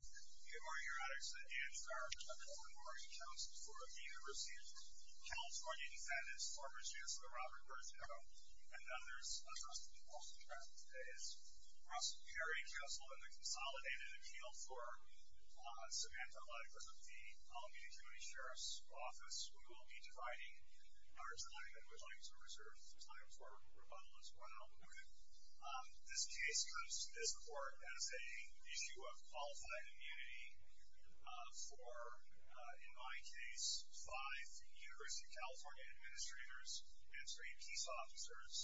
We are here at our Central Memorial Council for the University of California in Venice, former Chancellor Robert Birgeneau, and others, Trustee Paul Strasburg, Trustee Perry, Council, and the consolidated appeal for Samantha Luddick with the Columbia Community Sheriff's Office. We will be dividing our time and would like to reserve some time for rebuttal as well. This case comes to this court as an issue of qualified immunity for, in my case, five University of California administrators and three peace officers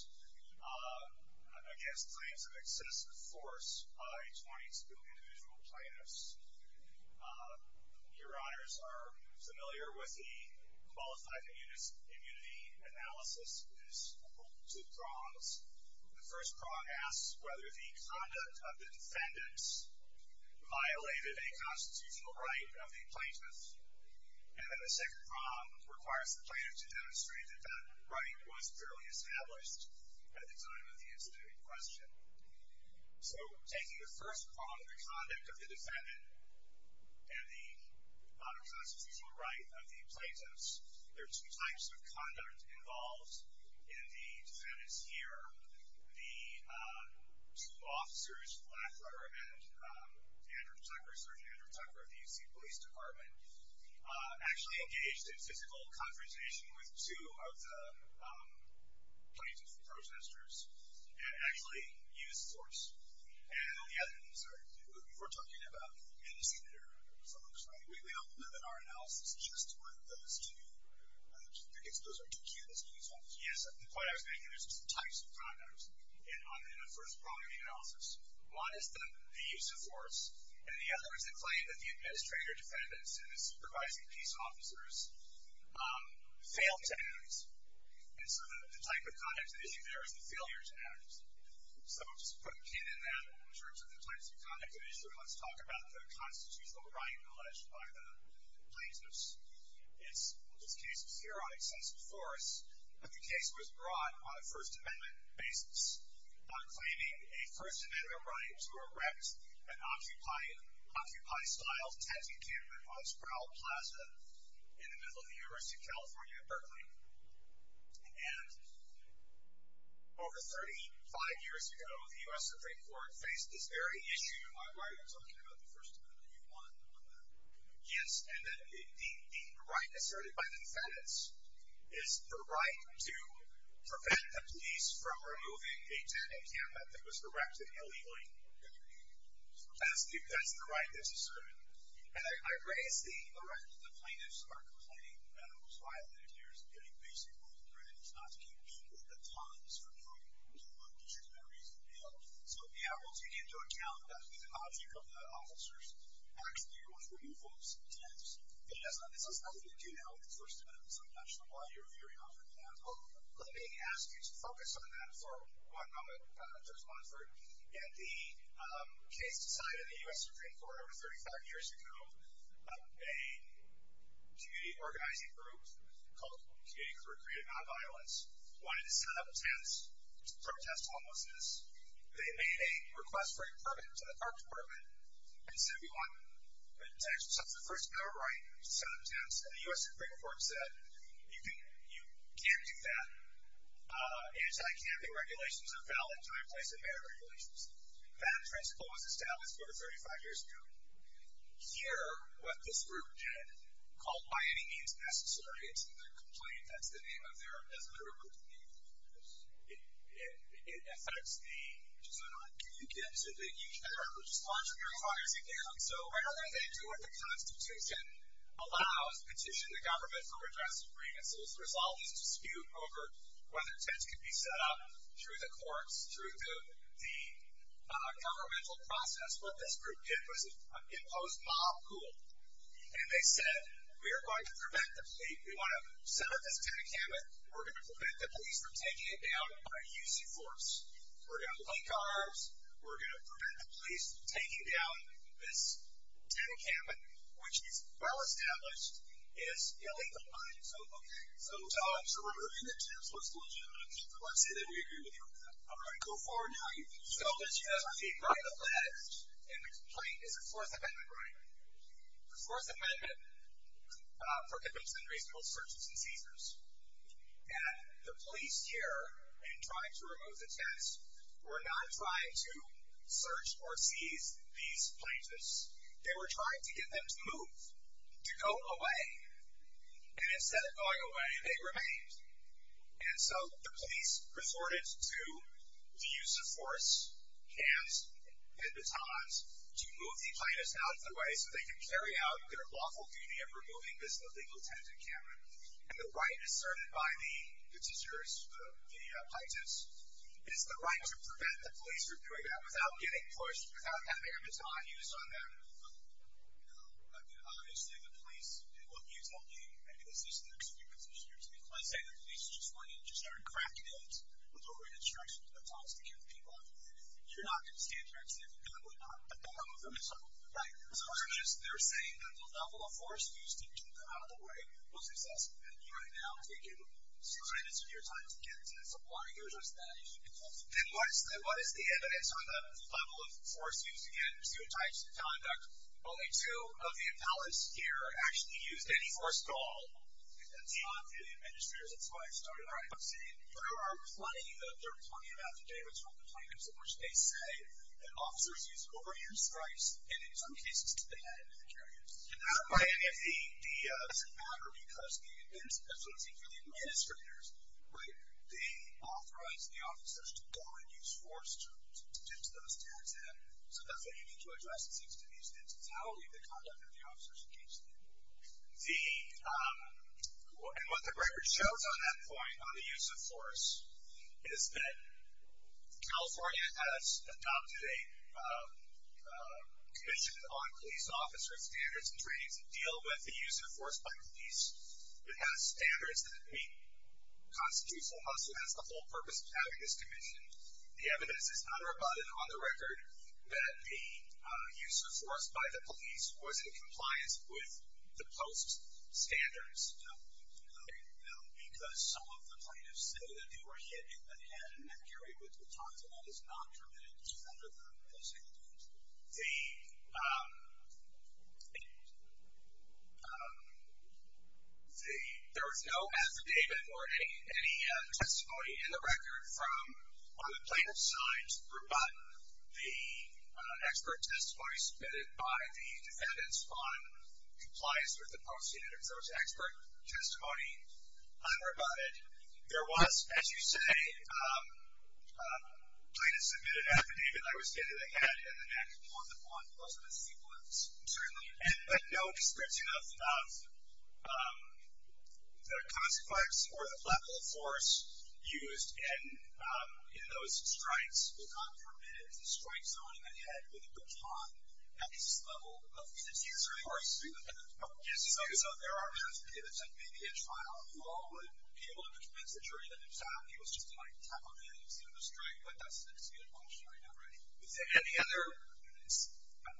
against claims of excessive force by 22 individual plaintiffs. Your honors are familiar with the Qualified Immunity Analysis. It is two prongs. The first prong asks whether the conduct of the defendants violated a constitutional right of the plaintiffs. And then the second prong requires the plaintiff to demonstrate that that right was fairly established at the time of the incident in question. So, taking the first prong, the conduct of the defendant and the unresolved constitutional right of the plaintiffs, there are two types of conduct involved in the defendants here. The two officers, Flackler and Andrew Tucker, Sergeant Andrew Tucker of the UC Police Department, actually engaged in physical confrontation with two of the plaintiffs, the protesters, and actually used force. And on the other hand, sir, we're talking about in the senior folks, right? We don't limit our analysis just to those two. I guess those are two key types. Yes. The point I was making is there's two types of conduct in the first prong of the analysis. One is the use of force. And the other is the claim that the administrator defendants and the supervising peace officers failed to act. And so the type of conduct at issue there is the failure to act. So just to put a pin in that in terms of the types of conduct at issue, let's talk about the constitutional right alleged by the plaintiffs. It's this case here on excessive force, but the case was brought on a First Amendment basis on claiming a First Amendment right to erect an Occupy-style tent encampment on Sproul Plaza in the middle of the University of California at Berkeley. And over 35 years ago, the U.S. Supreme Court faced this very issue. Why are you talking about the First Amendment? Do you want to comment on that? Yes, and the right asserted by the defendants is the right to prevent the police from removing a tent encampment that was erected illegally. That's the right that's asserted. And I raise the right that the plaintiffs are complaining that it was violators getting basically threatened not to keep people at the times for doing what they should do every single day. So, yeah, we'll take into account that the logic of the officers actually removed those tents. Yes, and this has nothing to do now with the First Amendment, so I'm not sure why you're veering off into that. Let me ask you to focus on that for one moment, Judge Monford. And the case decided in the U.S. Supreme Court over 35 years ago, a community organizing group called Community for Creative Nonviolence wanted to set up tents to protest homelessness. They made a request for a permit to the Park Department and said we want a tent. So it's the first ever right to set up tents, and the U.S. Supreme Court said you can't do that. Anti-camping regulations are valid, time, place, and manner regulations. That principle was established over 35 years ago. Here, what this group did, called by any means necessary to their complaint, that's the name of their group, it affects the ages or not. You get to the age bar, which is controversial as you can. So rather than do what the Constitution allows, petition the government for redress of grievances, there's always a dispute over whether tents can be set up through the courts, through the governmental process. What this group did was impose mob rule, and they said we are going to prevent the police. We want to set up this tent encampment. We're going to prevent the police from taking it down by using force. We're going to link arms. We're going to prevent the police from taking down this tent encampment, which is well established, is illegal mining. So removing the tents was legitimate. Let's say that we agree with you on that. All right, go forward now. So let's see. Right of left in the complaint is a force amendment, right? The force amendment prohibits unreasonable searches and seizures. And the police here, in trying to remove the tents, were not trying to search or seize these places. They were trying to get them to move, to go away. And instead of going away, they remained. And so the police resorted to the use of force, hands and batons to move the plaintiffs out of the way so they can carry out their lawful duty of removing this illegal tent encampment. And the right asserted by the petitioners, the plaintiffs, is the right to prevent the police from doing that without getting pushed, without having a baton used on them. Obviously, the police did what you told me, and this is their experience, and it's your experience. Let's say the police just went in and just started cracking heads with over-instructions and batons to get the people out of the way. You're not going to stand there and say, we're not going to move them, right? So they're saying that the level of force used to get them out of the way was excessive. And you, right now, are taking minutes of your time to get into that. So why are you addressing that issue? Then what is the evidence on the level of force used to get them out of the way? Well, there's two types of conduct. Only two of the appellants here actually used any force at all. That's not the administrators. That's why I started writing this in. There are plenty, there are plenty of affidavits from the plaintiffs in which they say that officers used overuse of force, and in some cases, they had to carry it. And that doesn't matter because it's associated with the administrators, right? They authorized the officers to go and use force to tip those tents in. So that's what you need to address, is to tip these tents in. So how are we going to conduct the officers in case they do? And what the record shows on that point, on the use of force, is that California has adopted a commission on police officers standards and trainings that deal with the use of force by police. It has standards that we constitute for us. It has the whole purpose of having this commission. The evidence is not rebutted on the record that the use of force by the police was in compliance with the post standards. No. No, because some of the plaintiffs say that they were hit in the head and that Gary Woods would talk to them. It's not permitted under the post standards. The, there was no affidavit or any testimony in the record from, on the plaintiff's side, to rebut the expert testimony submitted by the defendants on compliance with the post standard. So it's expert testimony unrebutted. There was, as you say, a plaintiff submitted an affidavit, I would say that they had in the next month, Certainly, but no description of the consequence or the level of force used in those strikes. It's not permitted. The strike zone in the head with the baton, that is the level of force. So there are affidavits and maybe a trial. You all would be able to convince the jury that the attack, it was just an attack on the head, it was not a strike. But that's the question right now, right? Is there any other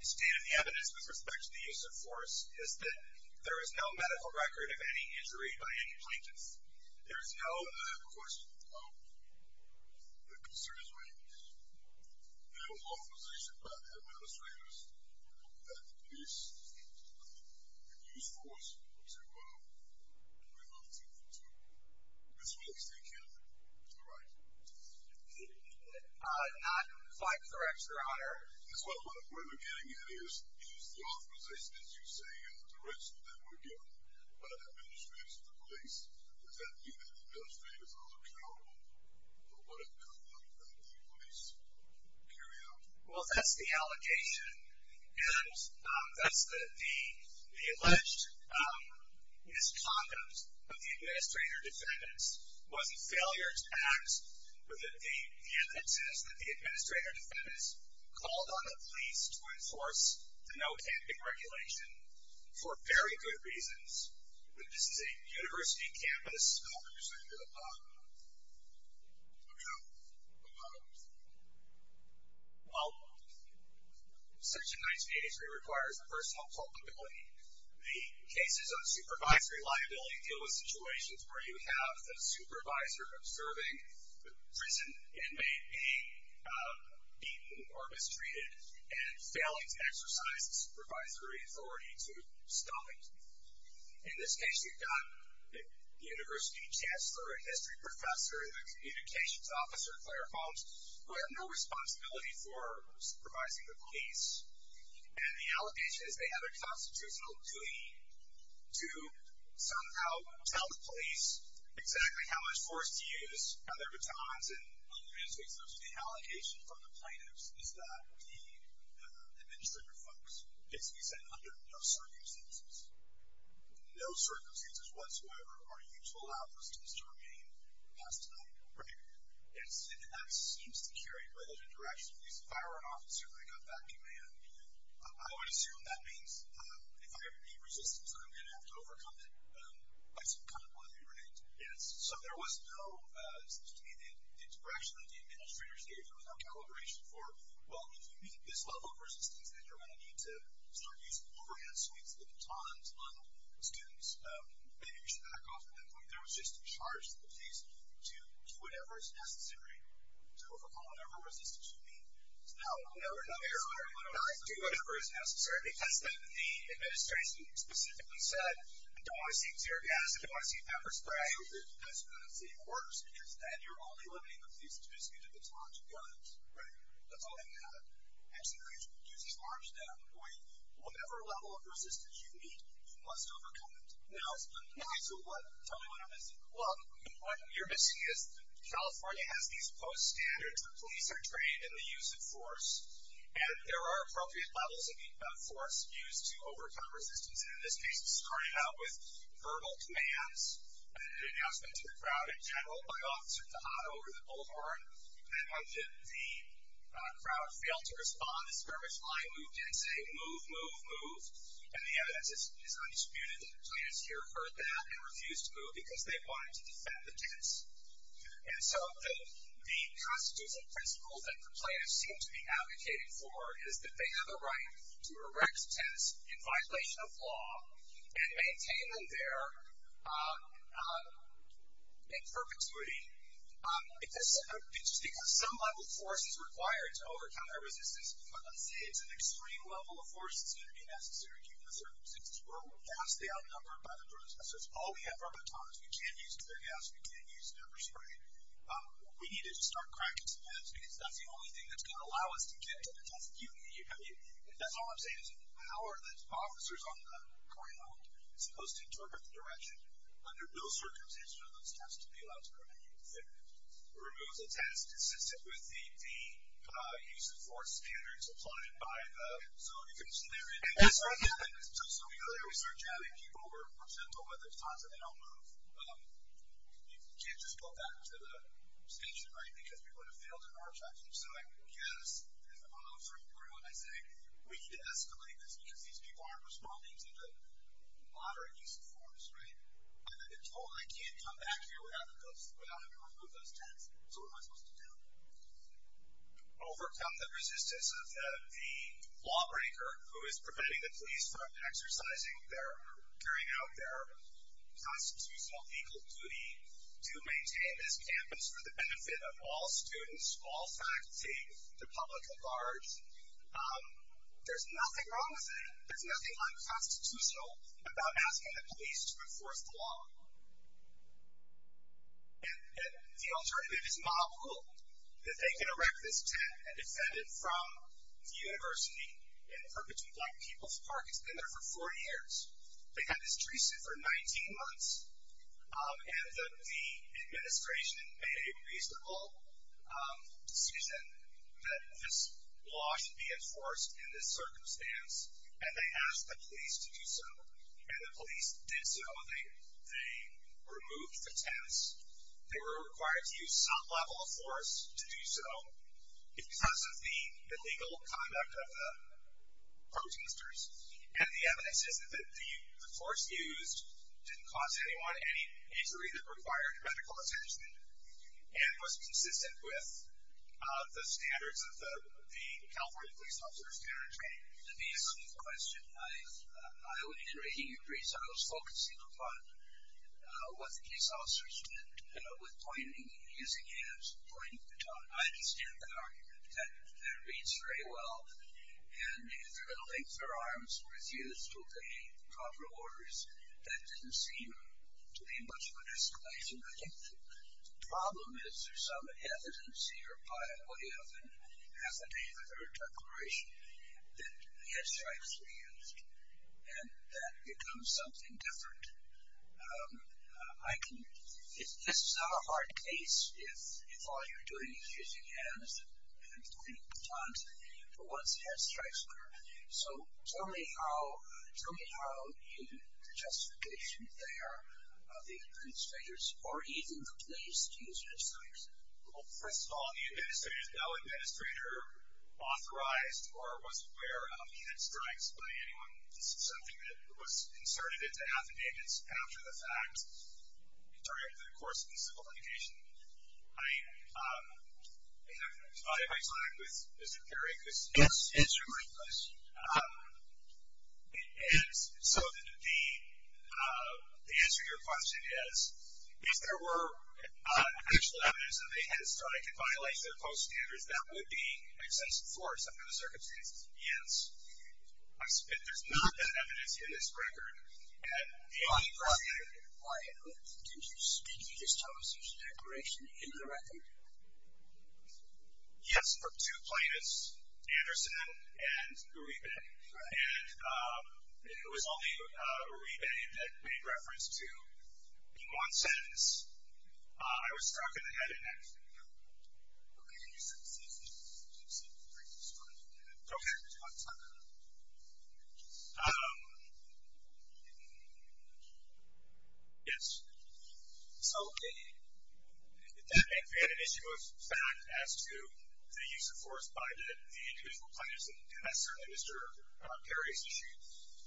state of the evidence with respect to the use of force, is that there is no medical record of any injury by any plaintiffs? There is no. I have a question. The concern is raised in a law position by the administrators that the police have used force to remove two for two. Which means they can't do the right thing. Not quite correct, Your Honor. What we're getting at is the authorization, as you say, and the direction that we're given by the administrators of the police, does that mean that the administrators are not accountable for what it could have looked like if the police carried out? Well, that's the allegation, and that's the alleged misconduct of the administrator defendants was a failure to act within the evidence that the administrator defendants called on the police to enforce the no camping regulation for very good reasons. This is a university campus. Go ahead, Your Honor. Go to the bottom. Okay. Go to the bottom. Well, Section 1983 requires a personal culpability. The cases of supervisory liability deal with situations where you have the supervisor observing the prison inmate being beaten or mistreated and failing to exercise the supervisory authority to stop it. In this case, you've got the university chancellor and history professor and the communications officer, Claire Holmes, who have no responsibility for supervising the police. And the allegation is they have a constitutional duty to somehow tell the police, exactly how much force to use. Now, there are times in the humanities case, those are the allegations from the plaintiffs, is that the administrator folks basically said, under no circumstances, no circumstances whatsoever are you to allow this case to remain past time. Right. And that seems to carry by those interactions with the police. If I were an officer and I got that command, I would assume that means if I ever need resistance, I'm going to have to overcome it by some kind of way, right? Yes. So there was no, to me, the interaction that the administrators gave, there was no calibration for, well, if you meet this level of resistance, then you're going to need to start using overhead suites, the batons on students. Maybe we should back off at that point. There was just a charge to the police to do whatever is necessary to overcome whatever resistance you meet. So now we're in another area. Not do whatever is necessary, because then the administration specifically said, I don't want to see tear gas, I don't want to see pepper spray. That's not how it works, because then you're only limiting the police to basically the batons and guns. Right. That's all they have. And so now you have to reduce these bars to that point. Whatever level of resistance you meet, you must overcome it. Now, okay, so what? Tell me what I'm missing. Well, what you're missing is California has these post-standards. The police are trained in the use of force, and there are appropriate levels of force used to overcome resistance. And in this case, this started out with verbal commands, an announcement to the crowd in general, by Officer Tejada over at the boulevard. And once the crowd failed to respond, a skirmish line moved in saying, move, move, move. And the evidence is undisputed that the plaintiffs here heard that and refused to move because they wanted to defend the kids. And so the constitutional principles that the plaintiffs seem to be advocating for is that they have a right to erect tents in violation of law and maintain them there in perpetuity. It's just because some level of force is required to overcome their resistance. But let's say it's an extreme level of force that's going to be necessary given the circumstances where we're vastly outnumbered by the drones. That's all we have are batons. We can't use nuclear gas. We can't use number spray. What we need is to start cracking some heads, because that's the only thing that's going to allow us to get to the test. And that's all I'm saying is how are the officers on the corner supposed to interpret the direction under those circumstances for those tests to be allowed to continue? It removes a test consistent with the use of force standards applied by the zone. You can see there in this one. So we go there, we start jabbing people, we're sent over, there's tons of them that don't move. You can't just go back to the station, right, because we would have failed in our attempt. So I guess, as the follow-through grew, and I say, we need to escalate this because these people aren't responding to the moderate use of force, right? I've been told I can't come back here without having to remove those tests. So what am I supposed to do? Overcome the resistance of the lawbreaker who is preventing the police from exercising their, carrying out their constitutional legal duty to maintain this campus for the benefit of all students, all faculty, the public, the guards. There's nothing wrong with that. There's nothing unconstitutional about asking the police to enforce the law. And the alternative is mob rule, that they can erect this tent and defend it from the university and Purposeful Black People's Park. It's been there for 40 years. They had this tree stood for 19 months, and the administration made a reasonable decision that this law should be enforced in this circumstance, and they asked the police to do so. And the police did so. They removed the tents. They were required to use some level of force to do so because of the illegal conduct of the protesters. And the evidence is that the force used didn't cause anyone any injury that required medical attention and was consistent with the standards of the California police officers. To be a smooth question, I would agree. So I was focusing upon what the police officers did with pointing, using hands, pointing the tongue. I understand that argument. That reads very well. And if their limbs or arms were used to obey proper orders, that didn't seem to be much of an escalation. I think the problem is there's some hesitancy or piety of an affidavit or declaration that head strikes were used, and that becomes something different. This is not a hard case. If all you're doing is using hands and pointing the tongue, what's head strikes for? So tell me how you just get through there the administrators or even the police to use head strikes. Well, first of all, the administrator is no administrator authorized or was aware of the head strikes by anyone. This is something that was inserted into affidavits after the fact, during the course of the civil litigation. I have divided my time with Mr. Perry. Yes, answer my question. So the answer to your question is, if there were actual evidence that a head strike could violate civil code standards, that would be excessive force under the circumstances of the hands. There's not that evidence in this record. Why? Did you just tell us there's a declaration in the record? Yes, for two plaintiffs, Anderson and Uribe. And it was only Uribe that made reference to being on sentence. I was struck in the head in that video. Okay. Okay. Yes. So that may have been an issue of fact as to the use of force by the individual plaintiffs, and that's certainly Mr. Perry's issue.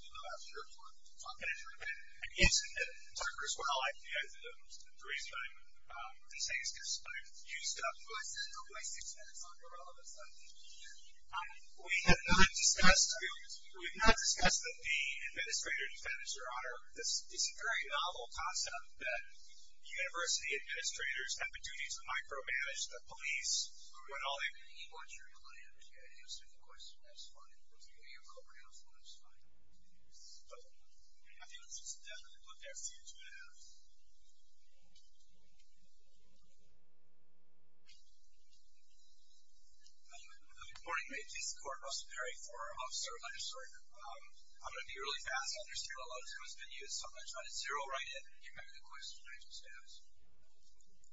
I'm not sure if we're talking about Uribe. Yes, and Tucker as well. The reason I'm saying this is because I've used up my six minutes on irrelevant stuff. We have not discussed the administrator defense, Your Honor. It's a very novel concept that university administrators have the duty to micromanage the police when all they can. He wants to rely on the QA. That's a good question. That's fine. We'll give you a couple rounds. That's fine. I think let's just definitely put there a few minutes. Good morning. My name is Russell Perry for Officer of Legislature. I'm going to be really fast. I understand a lot of time has been used, so I'm going to try to zero right in. Do you remember the question I just asked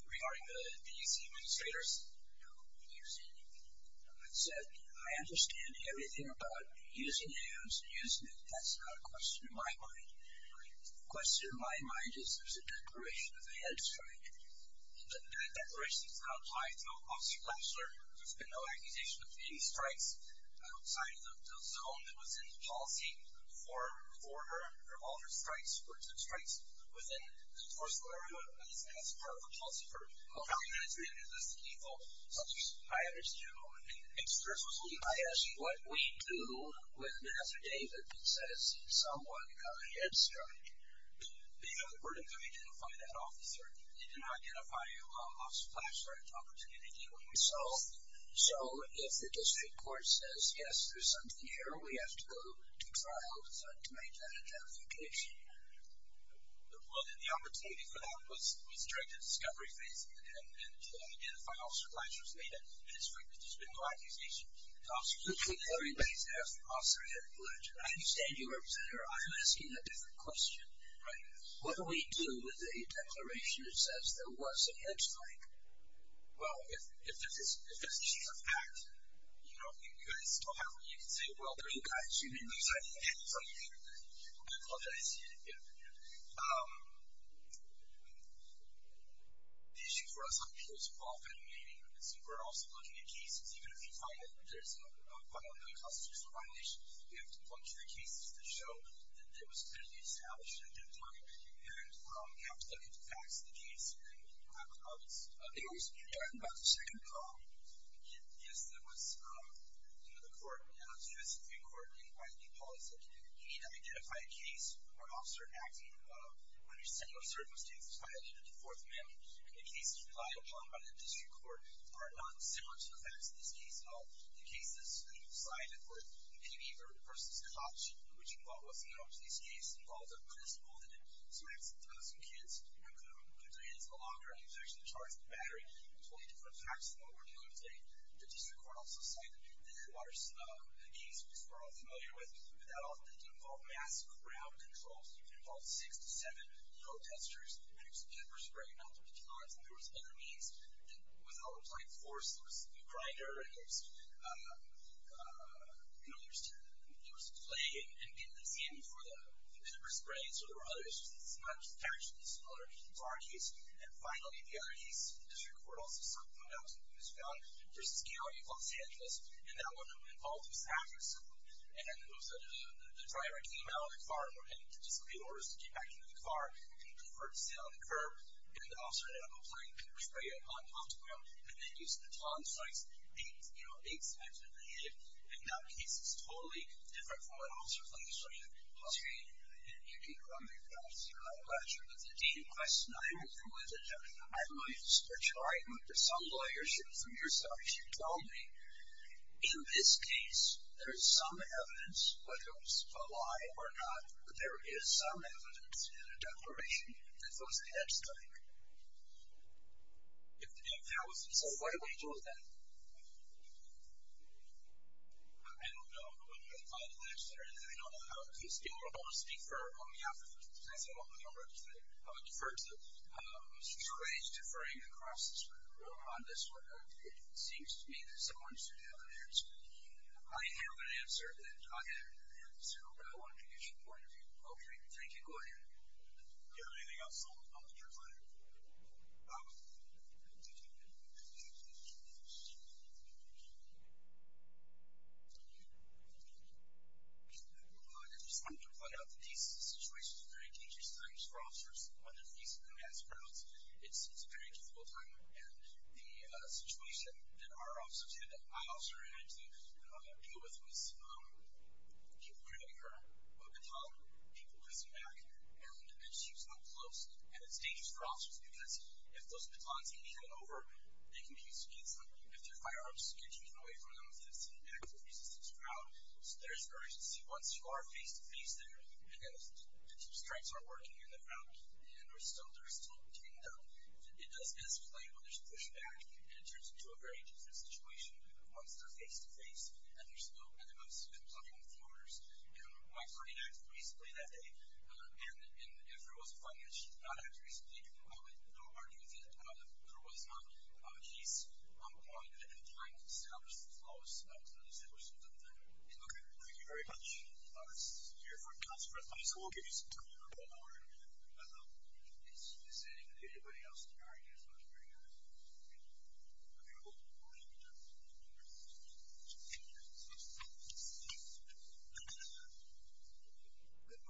regarding the DC administrators? No. Have you seen anything? I said I understand everything about using hands and using it. That's not a question in my mind. The question in my mind is there's a declaration of a head strike, and that declaration is not tied to Officer Klapsler. There's been no accusation of any strikes outside of the zone that was in the policy for her, for all her strikes, for her strikes within the force of law. That's part of the policy. For how many minutes do we have to do this to keep all officers? I understood you. I asked what we do when Mr. David says someone got a head strike. We're going to identify that officer. They did not identify Officer Klapsler at the opportunity when we solved. So if the district court says, yes, there's something here, we have to go to trial to make that identification. Well, then the opportunity for that was during the discovery phase, and to identify Officer Klapsler was made at the district, but there's been no accusation. The discovery phase after Officer Klapsler. I understand you, Representative. I'm asking a different question. What do we do with a declaration that says there was a head strike? Well, if it's a chief of act, you know, if you guys still have one, you can say, well, there's a guy shooting. I apologize. Yeah. The issue for us, I'm sure it's a qualified meeting, but I assume we're also looking at cases. Even if there's a violent constitutes a violation, we have to look through the cases to show that it was clearly established at that time, and we have to look at the facts of the case. And I think I was talking about the second call. Yes, there was, you know, the court, the U.S. Supreme Court, and by the new policy, you need to identify a case where an officer acting under similar circumstances violated the Fourth Amendment. The cases relied upon by the district court are not similar to the facts of this case at all. The cases that you've cited were the KB versus Koch, which involved what's known to these cases, involved a principal that had smacked some kids, who put their hands in a locker, and he was actually charged with battery. Totally different facts from what we're dealing with today. The district court also cited the Schwartz case, which we're all familiar with, but that often didn't involve mass crowd control. It involved six to seven load testers, and it was a pepper spray, not the batons. And there was other means that was not applied force. There was a grinder, and there was clay, and it was in for the pepper spray. So there were other issues. It's not actually similar to our case. And finally, the other case, the district court also cited one else, who was found versus the county of Los Angeles, and that one involved a saboteur, and the driver came out of the car and were heading to disobey orders to get back into the car, and he conferred a seat on the curb, and the officer that had been playing pepper spray on top of him and then used the baton strikes eight times with the head. And that case is totally different from what officers like this are dealing with. You can comment on this. I'm not sure if it's a deep question. I'm not even familiar with it. I might switch. All right. There's some lawyership from yourselves. You tell me. In this case, there is some evidence, whether it was a lie or not, that there is some evidence in a declaration that those heads strike. So why do we do that? I don't know. I don't know. I don't want to speak on behalf of this case. I don't represent it. I would defer to Mr. Gray's deferring the process on this one. It seems to me that someone should have an answer. I have an answer that I have. So I want to get your point of view. Okay. Thank you. Go ahead. Do you have anything else? I'll let you reply. I just wanted to point out that these situations are very dangerous times for officers when they're facing mass crowds. It's a very difficult time. And the situation that our officers had, that my officer had to deal with was people were getting hurt, people were pushing back. And it seems not close. And it's dangerous for officers because if those batons can be handed over, they can be used against them. If their firearms can be taken away from them, if they've seen an active resistance crowd. So there's an urgency. Once you are face-to-face there, and if the two strikes aren't working in the crowd, and there's still, there's still getting them, it doesn't escalate when there's pushback. And it turns into a very different situation once they're face-to-face. And there's no, no, no, no, no, no, no, no. Okay. Good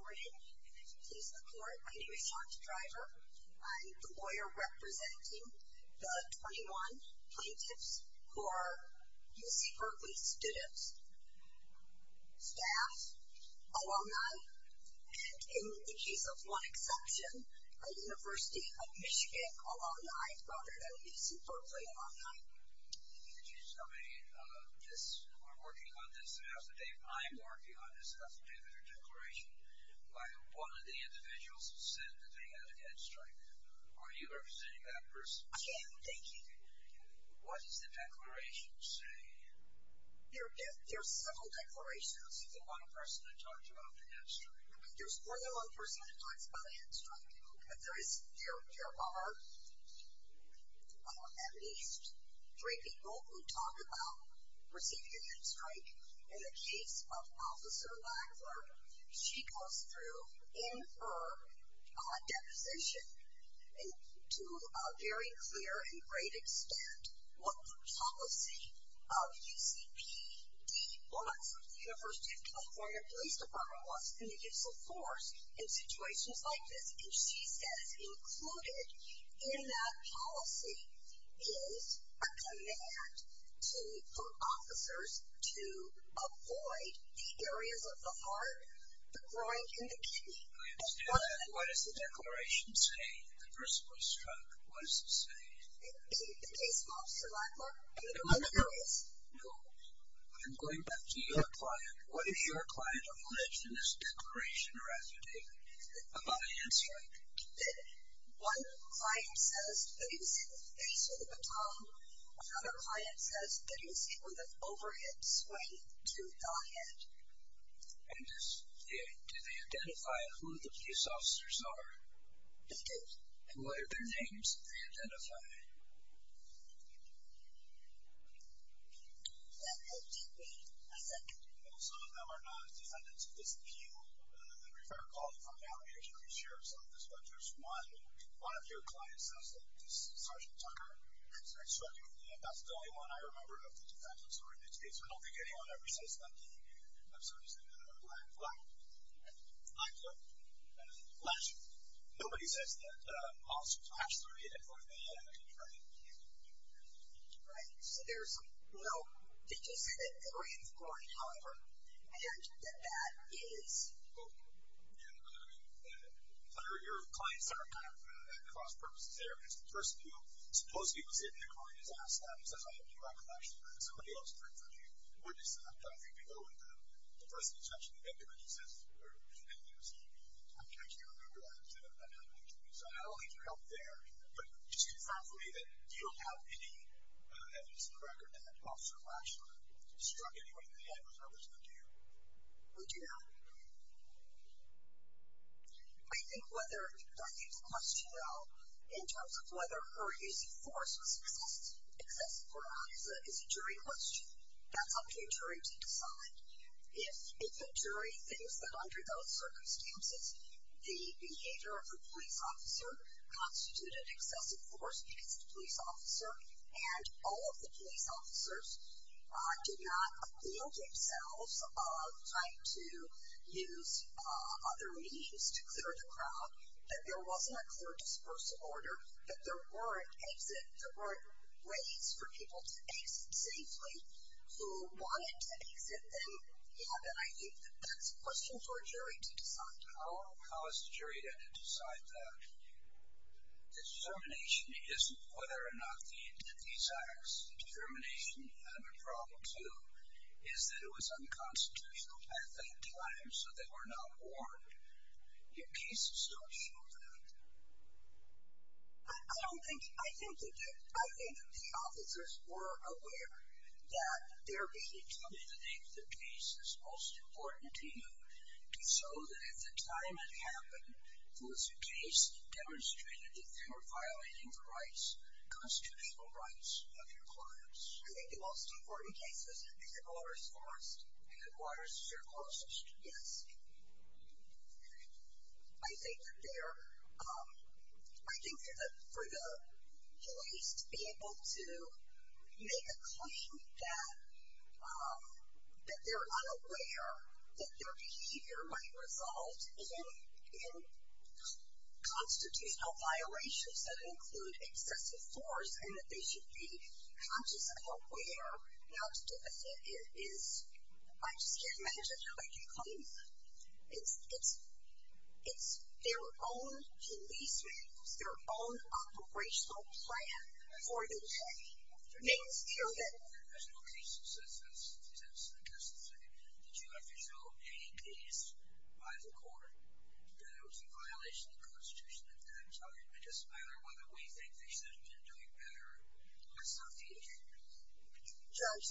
morning. Please support. My name is Sean's driver. I'm the lawyer representing the 21 plaintiffs who are UC Berkeley students, staff, alumni, and in the case of one exception, a university of Michigan alumni, UC Berkeley alumni. Excuse me. Uh, this, we're working on this. It has to be, I'm working on this. It has to do with your declaration by one of the individuals who said that they had a head strike. Are you representing that person? I am. Thank you. What does the declaration say? There are several declarations. The one person that talked about the head strike. There's only one person that talks about a head strike. There is, there, there are at least three people who talk about receiving a head strike in the case of officer Lackler. She goes through in her deposition to a very clear and great extent what the policy of UCPD was at the university of California police department was in the gifts of force in situations like this, and she says included in that policy is a command to, for officers to avoid the areas of the heart, the groin, and the kidney. I understand that. What does the declaration say? The person was struck. What does it say? In the case of officer Lackler, in the groin areas. No, I'm going back to your client. What if your client alleged in this declaration or affidavit about a head strike? One client says that he was hit in the face with a baton. Another client says that he was hit with an overhead swing to the head. And is, do they identify who the police officers are? And what are their names that they identify? Some of them are not defendants of this appeal. I'm going to share some of this, but there's one, one of your clients says that this is Sergeant Tucker. That's the only one I remember of the defendant's story. So I don't think anyone ever says that to me. I'm sorry. Black, black, black, black. Nobody says that. Officer Tashler did it for me. Right. So there's, no, did you say the 3rd groin? However, I heard that that is. Yeah, I mean, your clients are kind of at cross purposes there. It's the person who supposedly was hit in the groin has asked that. He says, I have no recollection of that. Somebody else has heard from you. We're just, I don't think we know what the person is actually. Everybody says, I can't remember that. So I don't need your help there. But it's confirmed for me that you don't have any evidence in the record that Officer Tashler struck anyone in the head with regards to the deer. We do not. I think whether, I think the question though, in terms of whether her use of force was excessive, excessive or not is a jury question. That's up to a jury to decide. If, if the jury thinks that under those circumstances, the behavior of the police officer constituted excessive force because the police officer and all of the police officers did not appeal to themselves of trying to use other means to clear the crowd, that there wasn't a clear dispersal order, that there weren't exit, there weren't ways for people to exit safely who wanted to exit them. Yeah. And I think that that's a question for a jury to decide. How, how is the jury to decide that? The determination isn't whether or not the, that these acts of determination have a problem too, is that it was unconstitutional at that time. So they were not warned. Your cases don't show that. I don't think, I think, I think the officers were aware that there being, tell me the name of the case that's most important to you. So that at the time it happened, was your case demonstrated that they were violating the rights, constitutional rights of your clients? I think the most important cases, is it Waters Forest? Is it Waters Forest? Yes. I think that there, I think for the, for the police to be able to make a claim that, that they're unaware that their behavior might result in, in constitutional violations that include excessive force, and that they should be conscious and aware not to do it, is, I just can't imagine how they can claim that. It's, it's, it's their own policemen, it's their own operational plan for the day. There's no case that says, that says, that doesn't say that you have to show a case by the court, that it was a violation of the constitution. And I'm telling the participator whether we think they should have been doing better. That's not the issue. Judge,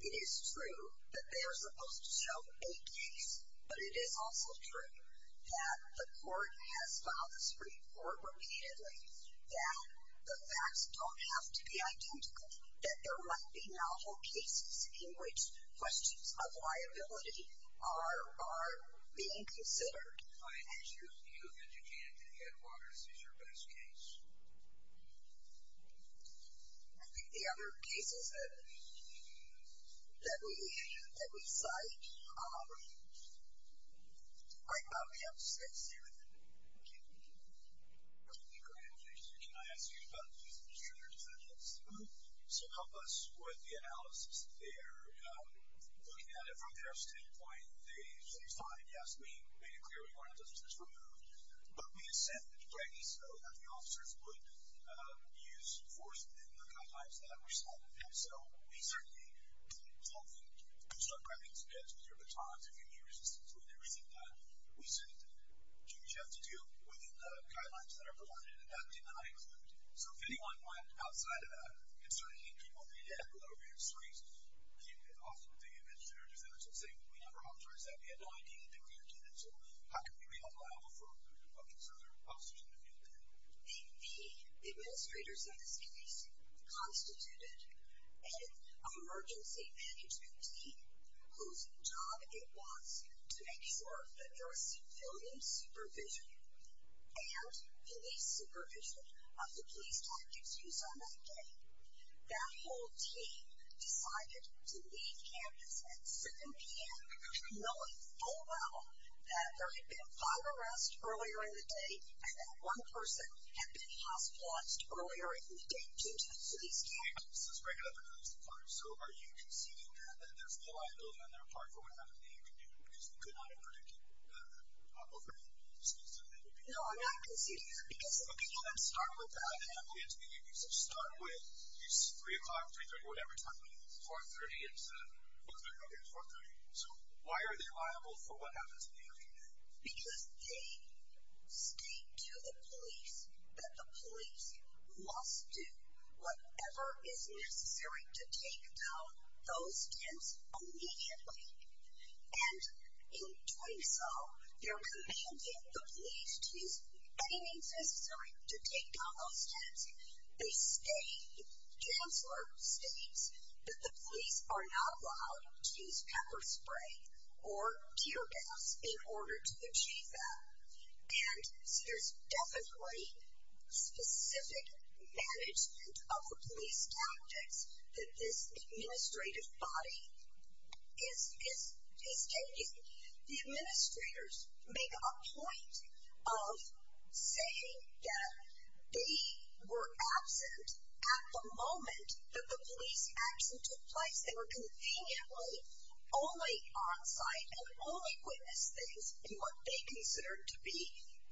it is true that they are supposed to show a case, but it is also true that the court has filed this report repeatedly, that the facts don't have to be identical, that there might be novel cases in which questions of liability are, are being considered. I think the other cases that, that we, that we cite, I probably have six here. Thank you. Okay. Great. Can I ask you about these particular defendants? So help us with the analysis. They're looking at it from their standpoint. They say, it's fine. Yes, we made it clear. We want to just remove, but we assent to Greg, so that the officers would use force within the guidelines that we're signing. So we certainly don't think you start grabbing some heads with your batons. If you need resistance with everything that we said, you have to deal with the guidelines that are provided. And that did not exclude. So if anyone went outside of that, concerning people being handled over your streets, you can also, the administrator said, let's just say, we never authorized that. We had no idea that they were here to do that. So how can we be unlawful? The administrators of this case constituted an emergency management team, whose job it was to make sure that there was civilian supervision and police supervision of the police tactics used on that day. That whole team decided to leave campus at 7 p.m. knowing full well that there had been a fire arrest earlier in the day. And that one person had been hospitalized earlier in the day due to the police tactics. So are you conceding that there's no liability on their part for what happened in the evening? Because we could not have predicted that overnight. No, I'm not conceding that because of opinion. I'm starting with that. So start with 3 o'clock, 3, 3, 4, 3. So why are they liable for what happens in the evening? Because they speak to the police that the police must do whatever is necessary to take down those tents immediately. And in doing so, they're commanding the police to use any means necessary to take down those tents. They state, Chancellor states that the police are not allowed to use pepper spray or tear gas in order to achieve that. And so there's definitely specific management of the police tactics that this administrative body is taking. The administrators make a point of saying that they were absent at the moment that the police action took place. They were conveniently only on site and only witnessed things in what they considered to be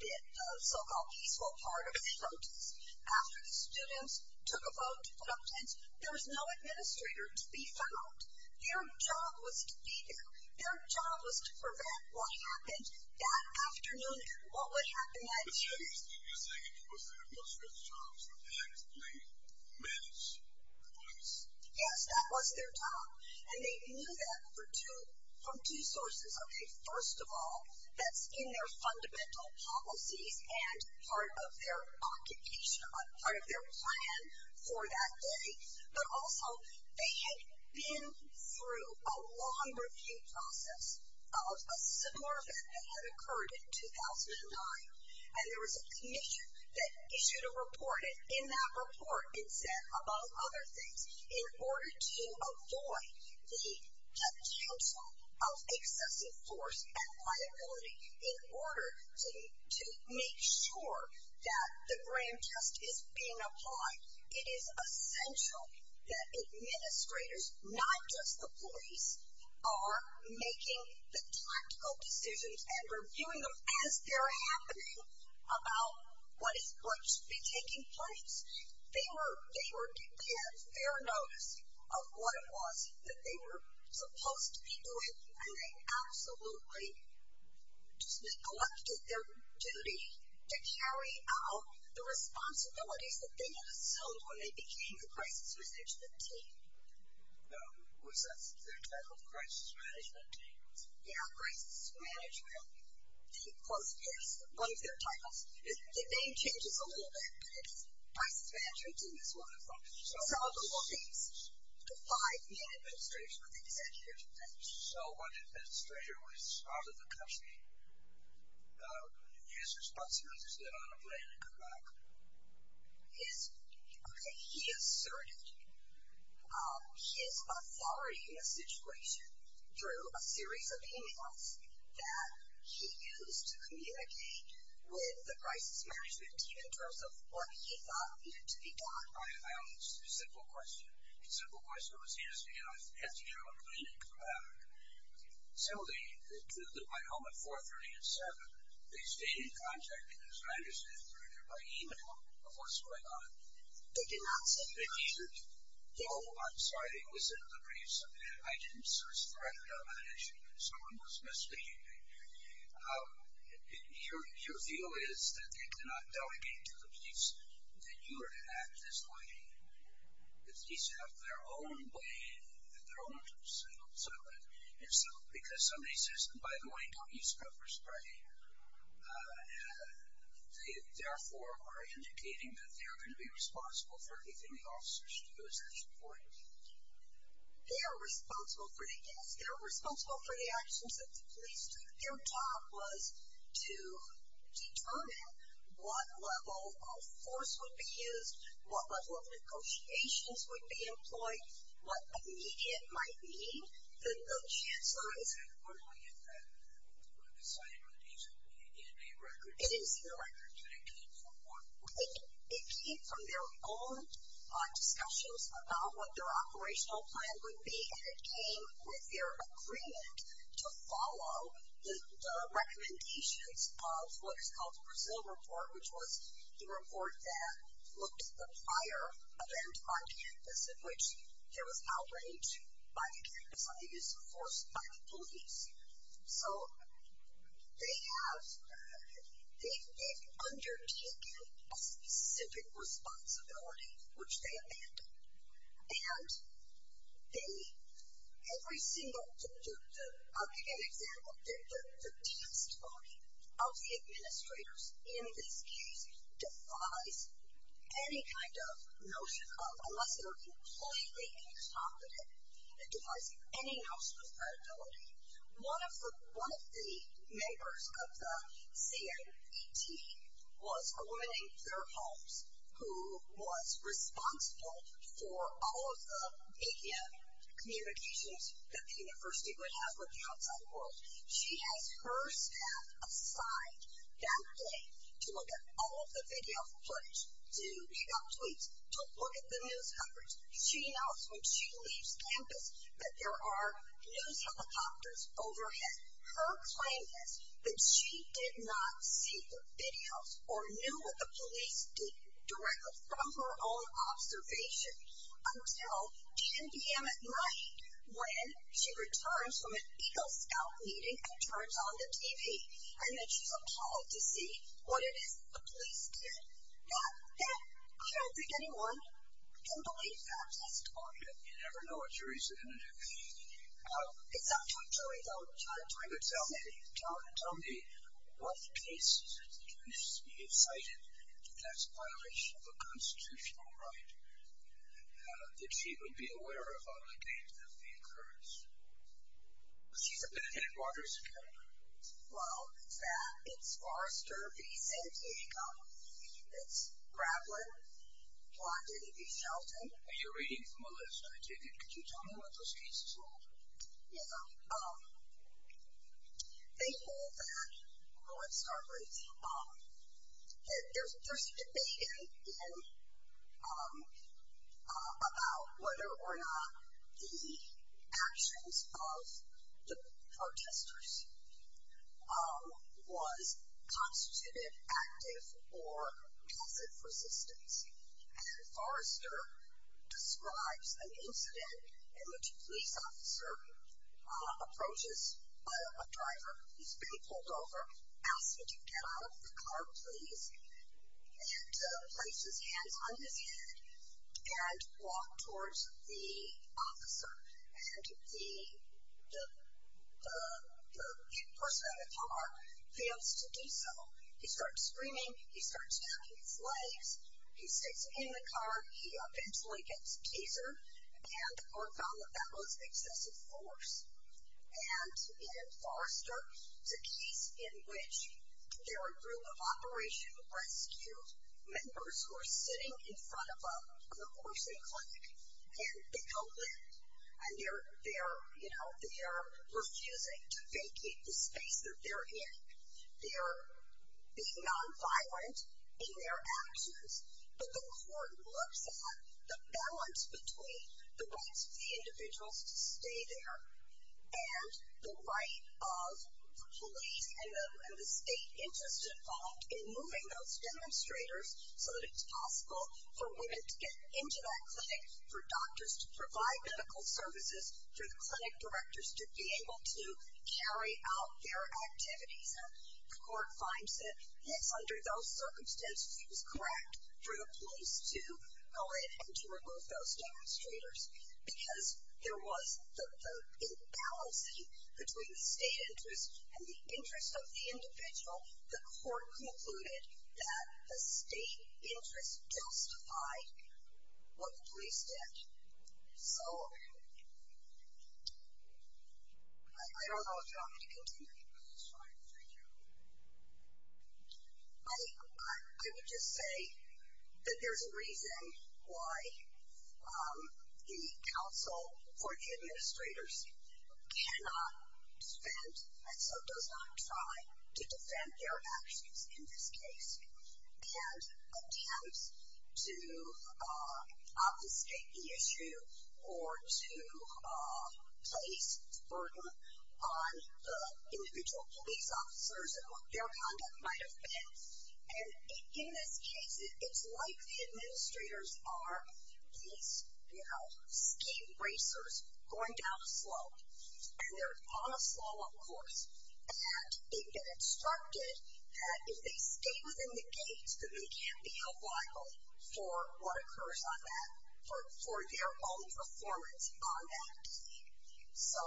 the so-called peaceful part of the protest. After the students took a vote to put up tents, there was no administrator to be found. Their job was to be there. Their job was to prevent what happened that afternoon and what would happen that day. But so you're saying it was the administrators' jobs to actively manage the police? Yes, that was their job. And they knew that from two sources. Okay, first of all, that's in their fundamental policies and part of their occupation, part of their plan for that day. But also, they had been through a long review process of a similar event that had occurred in 2009. And there was a commission that issued a report, and in that report it said, among other things, in order to avoid the potential of excessive force and liability, in order to make sure that the grand justice being applied, it is essential that administrators, not just the police, are making the tactical decisions and reviewing them as they're happening about what is going to be taking place. They were, they had fair notice of what it was that they were supposed to be doing, and they absolutely just neglected their duty to carry out the responsibilities that they had assumed when they became the crisis management team. No, was that their title, crisis management team? Yeah, crisis management team. Close, yes, one of their titles. The name changes a little bit, but it's crisis management team is what it's called. So, all of these defied the administration, what they said here. So, what if the administrator was part of the company, and his responsibilities did not apply in Iraq? okay, he asserted his authority in the situation through a series of emails that he used to communicate with the crisis management team in terms of what he thought needed to be done. I have a simple question. The simple question was, yes, you know, I have to go to a clinic in Iraq. So, my home at 430 and 7, they stayed in contact because I understood through their email of what's going on. They did not send you an email? No, I'm sorry, it was in the briefs. I didn't search directly on that issue. Someone was misbehaving. Your view is that they cannot delegate to the police that you are to act this way. The police have their own way, their own personal settlement. And so, because somebody says, and by the way, don't use pepper spray, they therefore are indicating that they are going to be responsible for anything the officers do. Is that your point? They are responsible for the guests. They are responsible for the actions of the police. Their job was to determine what level of force would be used, what level of negotiations would be employed, what a median might be. The chancellor has said, what do I get then? I'm sorry, the median may be a record. It is a record. And it came from what? It came from their own discussions about what their operational plan would be. And it came with their agreement to follow the recommendations of what is called the Brazil report, which was the report that looked at the prior event on campus, in which there was outrage by the campus on the use of force by the police. So, they have undertaken a specific responsibility, which they abandoned. And every single, I'll give you an example, the testimony of the administrators in this case defies any kind of notion of, unless they are completely incompetent, it defies any notion of credibility. One of the members of the CFPT was a woman in their homes who was responsible for all of the media communications that the university would have with the outside world. She has her staff assigned that day to look at all of the video footage, to read out tweets, to look at the news coverage. She knows when she leaves campus that there are news helicopters overhead. Her claim is that she did not see the videos or knew what the police did directly from her own observation until 10 p.m. at night, when she returns from an Eagle Scout meeting and turns on the TV. And then she's appalled to see what it is the police did. Now, I don't think anyone can believe that testimony. You never know what you're reasoning to do. It's up to you, Joey. Don't try to try to tell me. Tell me, what cases have you cited that's a violation of a constitutional right that she would be aware of on the day that the occurrence? She's a penitent in Waters, Indiana. Well, that is Forrester v. San Diego. It's Gravelin v. Shelton. Are you reading from a list? Can you tell me what those cases are? Yeah. They hold that, on Starbreeze, that there's a debate about whether or not the actions of the protesters was constitutive, active, or passive resistance. And Forrester describes an incident in which a police officer approaches a driver. He's being pulled over, asks him to get out of the car, please, and places his hands on his head and walks towards the officer. And the person in the car fails to do so. He starts screaming. He starts tapping his legs. He stays in the car. He eventually gets a teaser, and the court found that that was excessive force. And in Forrester, it's a case in which there are a group of Operation Rescue members who are sitting in front of a nursing clinic, and they don't live there. And they're refusing to vacate the space that they're in. They're being nonviolent in their actions. But the court looks at the balance between the rights of the individuals to stay there and the right of police and the state interest involved in moving those demonstrators so that it's possible for women to get into that clinic, for doctors to provide medical services, for the clinic directors to be able to carry out their activities. And the court finds that, yes, under those circumstances, it was correct for the police to go in and to remove those demonstrators because there was the imbalancing between the state interest and the interest of the individual. The court concluded that the state interest justified what the police did. So I don't know if you want me to continue. That's fine. Thank you. I would just say that there's a reason why the counsel for the administrators cannot defend and so does not try to defend their actions in this case and attempts to obfuscate the issue or to place burden on the individual police officers and what their conduct might have been. And in this case, it's like the administrators are these, you know, skate racers going down a slope. And they're on a slow-up course. And they've been instructed that if they stay within the gates, that they can't be held liable for what occurs on that, for their own performance on that team. So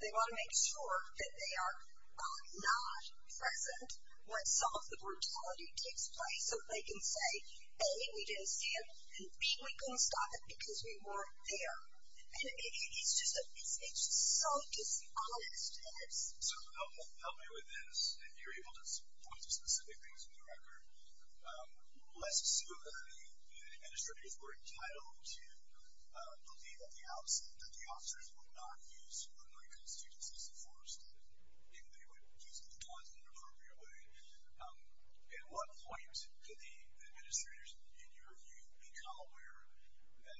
they want to make sure that they are not present when some of the brutality takes place so they can say, A, we didn't see it, and B, we couldn't stop it because we weren't there. And it's just so dishonest. So help me with this. If you're able to point to specific things from the record, let's assume that the administrators were entitled to believe that the officers would not use ordinary constitutions as a force, that they would use the laws in an appropriate way. At what point could the administrators in your view become aware that,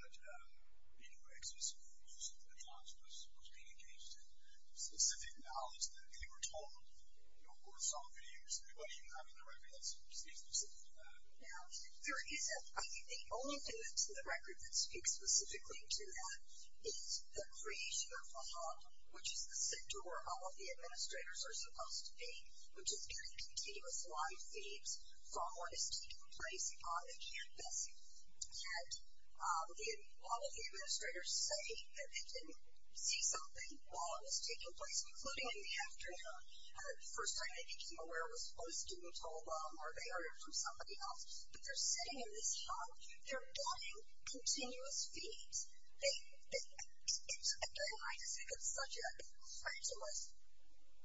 you know, existing rules and laws was being engaged in? Specific knowledge that they were told or saw videos? Anybody have in the record that speaks specifically to that? No. I think the only evidence in the record that speaks specifically to that is the creation of a hub, which is the center where all of the administrators are supposed to be, which is getting continuous live feeds from what is taking place on the campus. And all of the administrators say that they didn't see something while it was taking place, including in the afternoon. The first time they became aware was when a student told them or they heard it from somebody else. But they're sitting in this hub. They're getting continuous feeds. I just think it's such a pretentious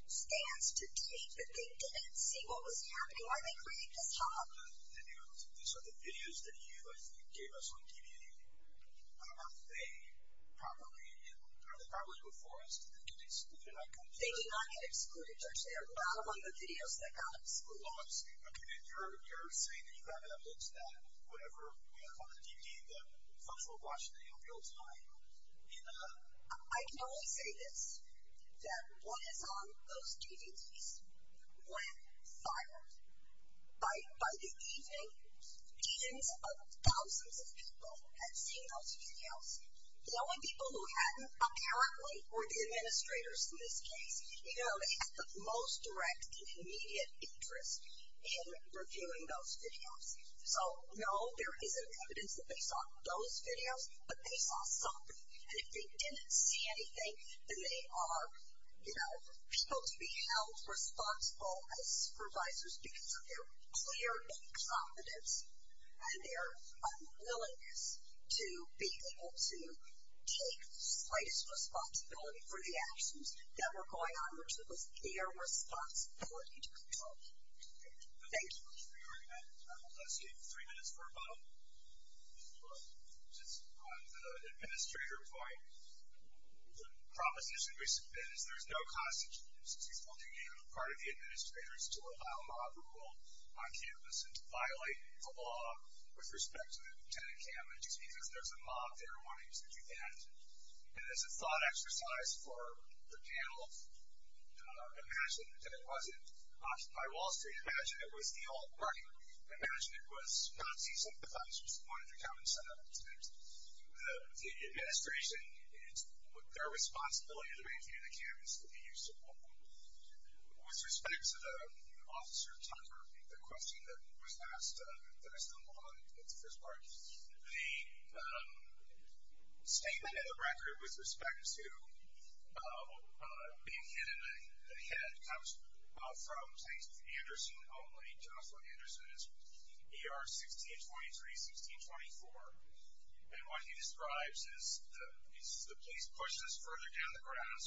stance to take that they didn't see what was happening while they created this hub. These are the videos that you gave us on DVD. Are they properly before us? Do they not get excluded? They do not get excluded, George. They are not among the videos that got excluded. Okay. And you're saying that you have evidence that whatever we have on the DVD, that folks will watch them in real time? I can only say this, that what is on those DVDs went viral. By the evening, tens of thousands of people had seen those videos. The only people who hadn't apparently were the administrators in this case. They had the most direct and immediate interest in reviewing those videos. So, no, there isn't evidence that they saw those videos, but they saw something. And if they didn't see anything, then they are, you know, people to be held responsible as supervisors because of their clear incompetence and their unwillingness to be able to take the slightest responsibility for the actions that were going on, which was their responsibility to control. Okay. Thank you very much for your argument. Let's give three minutes for a vote. Just on the administrator point, the proposition we submit is there is no constitutional duty on the part of the administrators to allow mob rule on campus and to violate the law with respect to the Lieutenant Camera, just because there's a mob there wanting to do that. And as a thought exercise for the panel, imagine that it wasn't Occupy Wall Street. Imagine it was the alt-right. Imagine it was Nazi sympathizers wanting to come and set up a tent. The administration, it's their responsibility to maintain the campus to be useful. With respect to the Officer Tucker, the question that was asked that I stumbled on at the first part, the statement in the record with respect to being hit in the head comes from, thanks to Anderson only, Joshua Anderson. It's ER 1623-1624. And what he describes is the police pushed us further down the grass.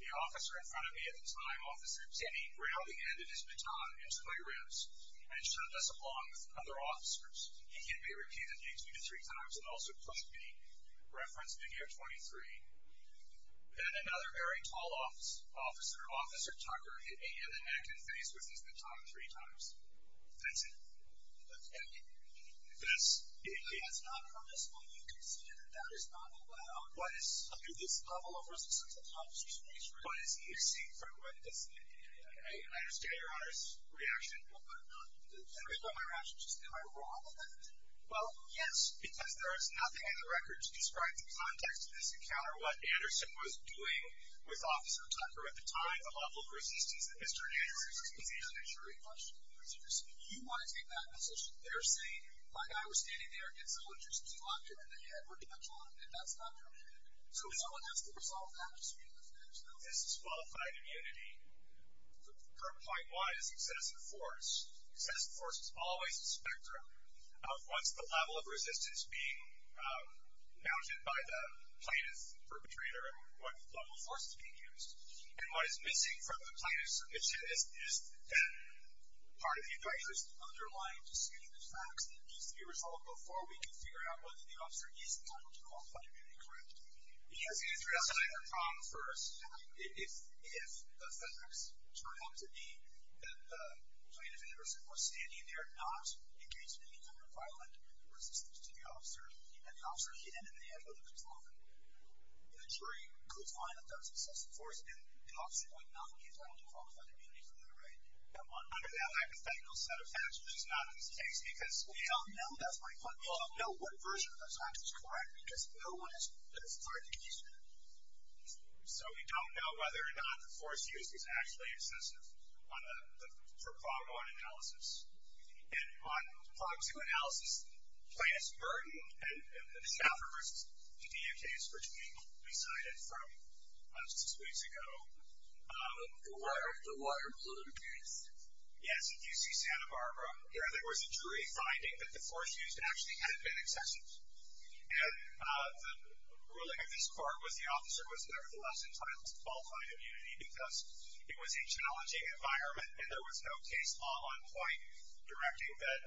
The officer in front of me at the time, Officer Timmy, ground the end of his baton into my ribs and shoved us along with other officers. He hit me repeatedly, two to three times, and also pushed me. Reference video 23. Then another very tall officer, Officer Tucker, hit me in the neck and face with his baton three times. That's it. That's not permissible. You can see that that is not allowed. What is? I mean, this level of resistance that the officers face right now. I understand Your Honor's reaction. Am I wrong about that? Well, yes, because there is nothing in the record to describe the context of this encounter, what Anderson was doing with Officer Tucker at the time, the level of resistance that Mr. Anderson was in. You want to take that position. They're saying, my guy was standing there and someone just locked him in the head with a baton, and that's not permitted. So if someone has to resolve that dispute, if there's no disqualified immunity, the current point is excessive force. Excessive force is always a spectrum of what's the level of resistance being mounted by the plaintiff and perpetrator and what level of force is being used. And what is missing from the plaintiff's submission is that part of the advice is the underlying dispute is facts, and it needs to be resolved before we can figure out whether the officer is entitled to qualified immunity, correct? Yes, he is resolving the problem first. If the facts turn out to be that the plaintiff and the person who was standing there not engaged in any kind of violent resistance to the officer, and the officer hid in the head with a baton, the jury could find that that's excessive force, and the officer would not be entitled to qualified immunity for that, right? Under that hypothetical set of facts, which is not in this case, because we don't know, that's my point, that's correct because no one is qualified to use that. So we don't know whether or not the force used is actually excessive for prog on analysis. And on prog 2 analysis, plaintiff's burden and the staffer versus PDU case, which we cited from six weeks ago. The water balloon case. Yes, in UC Santa Barbara, there was a jury finding that the force used actually had been excessive. And the ruling of this court was the officer was nevertheless entitled to qualified immunity because it was a challenging environment, and there was no case law on point directing that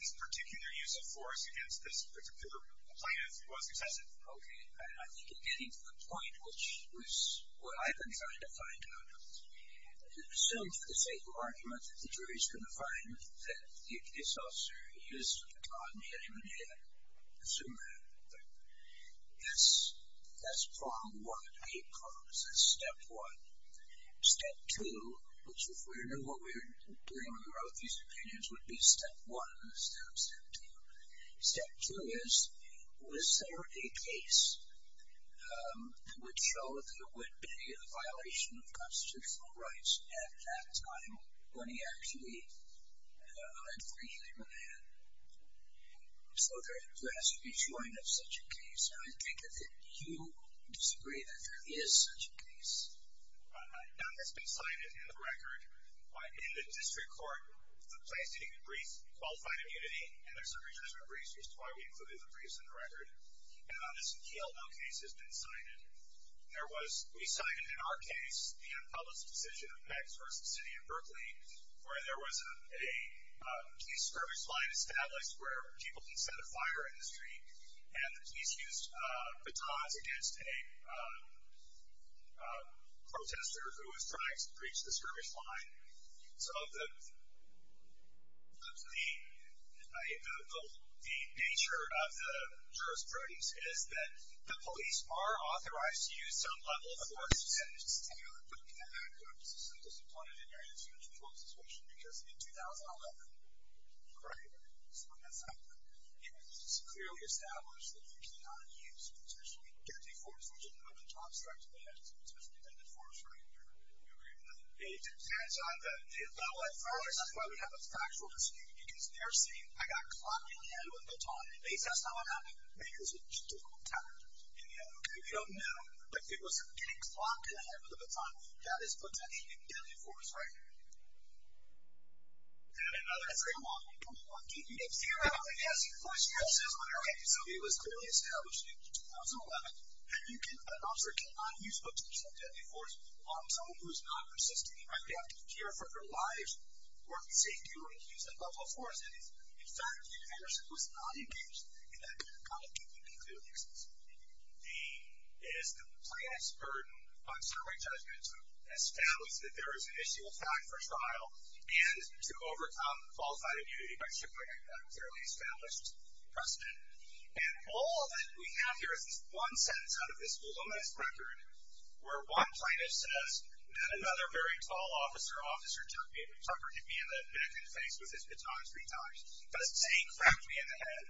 this particular use of force against this particular plaintiff was excessive. Okay. I think in getting to the point, which was what I've been trying to find out, it was assumed through the same argument that the jury was going to find that the case officer used prog and hit him in the head. Assume that. That's prog 1. I hate progs. That's step 1. Step 2, which if we knew what we were doing when we wrote these opinions, would be step 1 instead of step 2. Step 2 is, was there a case that would show that there would be a violation of constitutional rights at that time when he actually hit the man? So there has to be a join of such a case, and I think that you disagree that there is such a case. None has been cited in the record. In the district court, the plaintiff didn't even brief qualified immunity, and there's a retracement brief, which is why we included the briefs in the record. And on this appeal, no case has been cited. We cited in our case the unpublished decision of PECS versus the city of Berkeley, where there was a police service line established where people can set a fire in the street, and the police used batons against a protester who was trying to breach the service line. So the nature of the jurisprudence is that the police are authorized to use some level of force to set a fire, but you cannot go up to someone who is disappointed in your institutional situation, because in 2011, it was clearly established that you cannot use a potentially guilty force, which is the one that Tom struck to the head, a potentially vindictive force, right? We agree with that. It depends on the level of force. That's why we have a factual dispute, because they're saying, I got clopped in the head with a baton, and at least that's not what happened, because it just took a little time. And we don't know, but if it was getting clopped in the head with a baton, that is potentially a deadly force, right? And another framework, we put it on DVD, and theoretically, as a police officer, he says, okay, so it was clearly established in 2011 that an officer cannot use a potentially deadly force on someone who is not resisting, right? They have to care for their lives, work in safety, or use a level of force. In fact, Anderson was not engaged in that kind of deeply, clearly explicit behavior. The, is the plaintiff's burden, on certimony judgment, to establish that there is an issue of fact for trial, and to overcome qualified immunity by chipping away at a clearly established precedent. And all that we have here is this one sentence out of this voluminous record, where one plaintiff says, then another very tall officer, officer took me, took or hit me in the neck and face with his baton three times. He doesn't say, he cracked me in the head.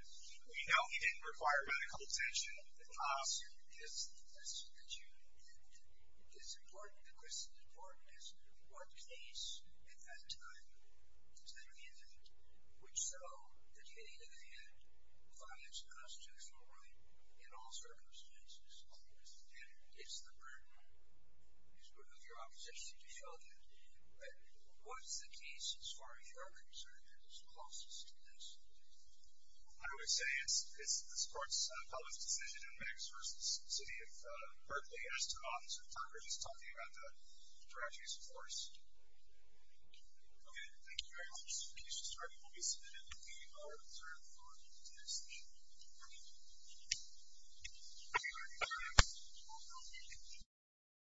We know he didn't require medical attention. The question is, is, that you, it's important, the question's important is, what case at that time, does that mean? Which so, that you hit me in the head, violates constitutional right, in all circumstances. And it's the burden, of your opposition to show that. What is the case, as far as you're concerned, that is closest to this? I would say it's, it's this court's public decision, in Mags versus the city of Berkeley, as to an officer of Congress, talking about the tragedies of force. Okay, thank you very much. The case we're starting will be submitted on the 3rd of August at 10 o'clock. Thank you. Thank you. Thank you very much. Thank you.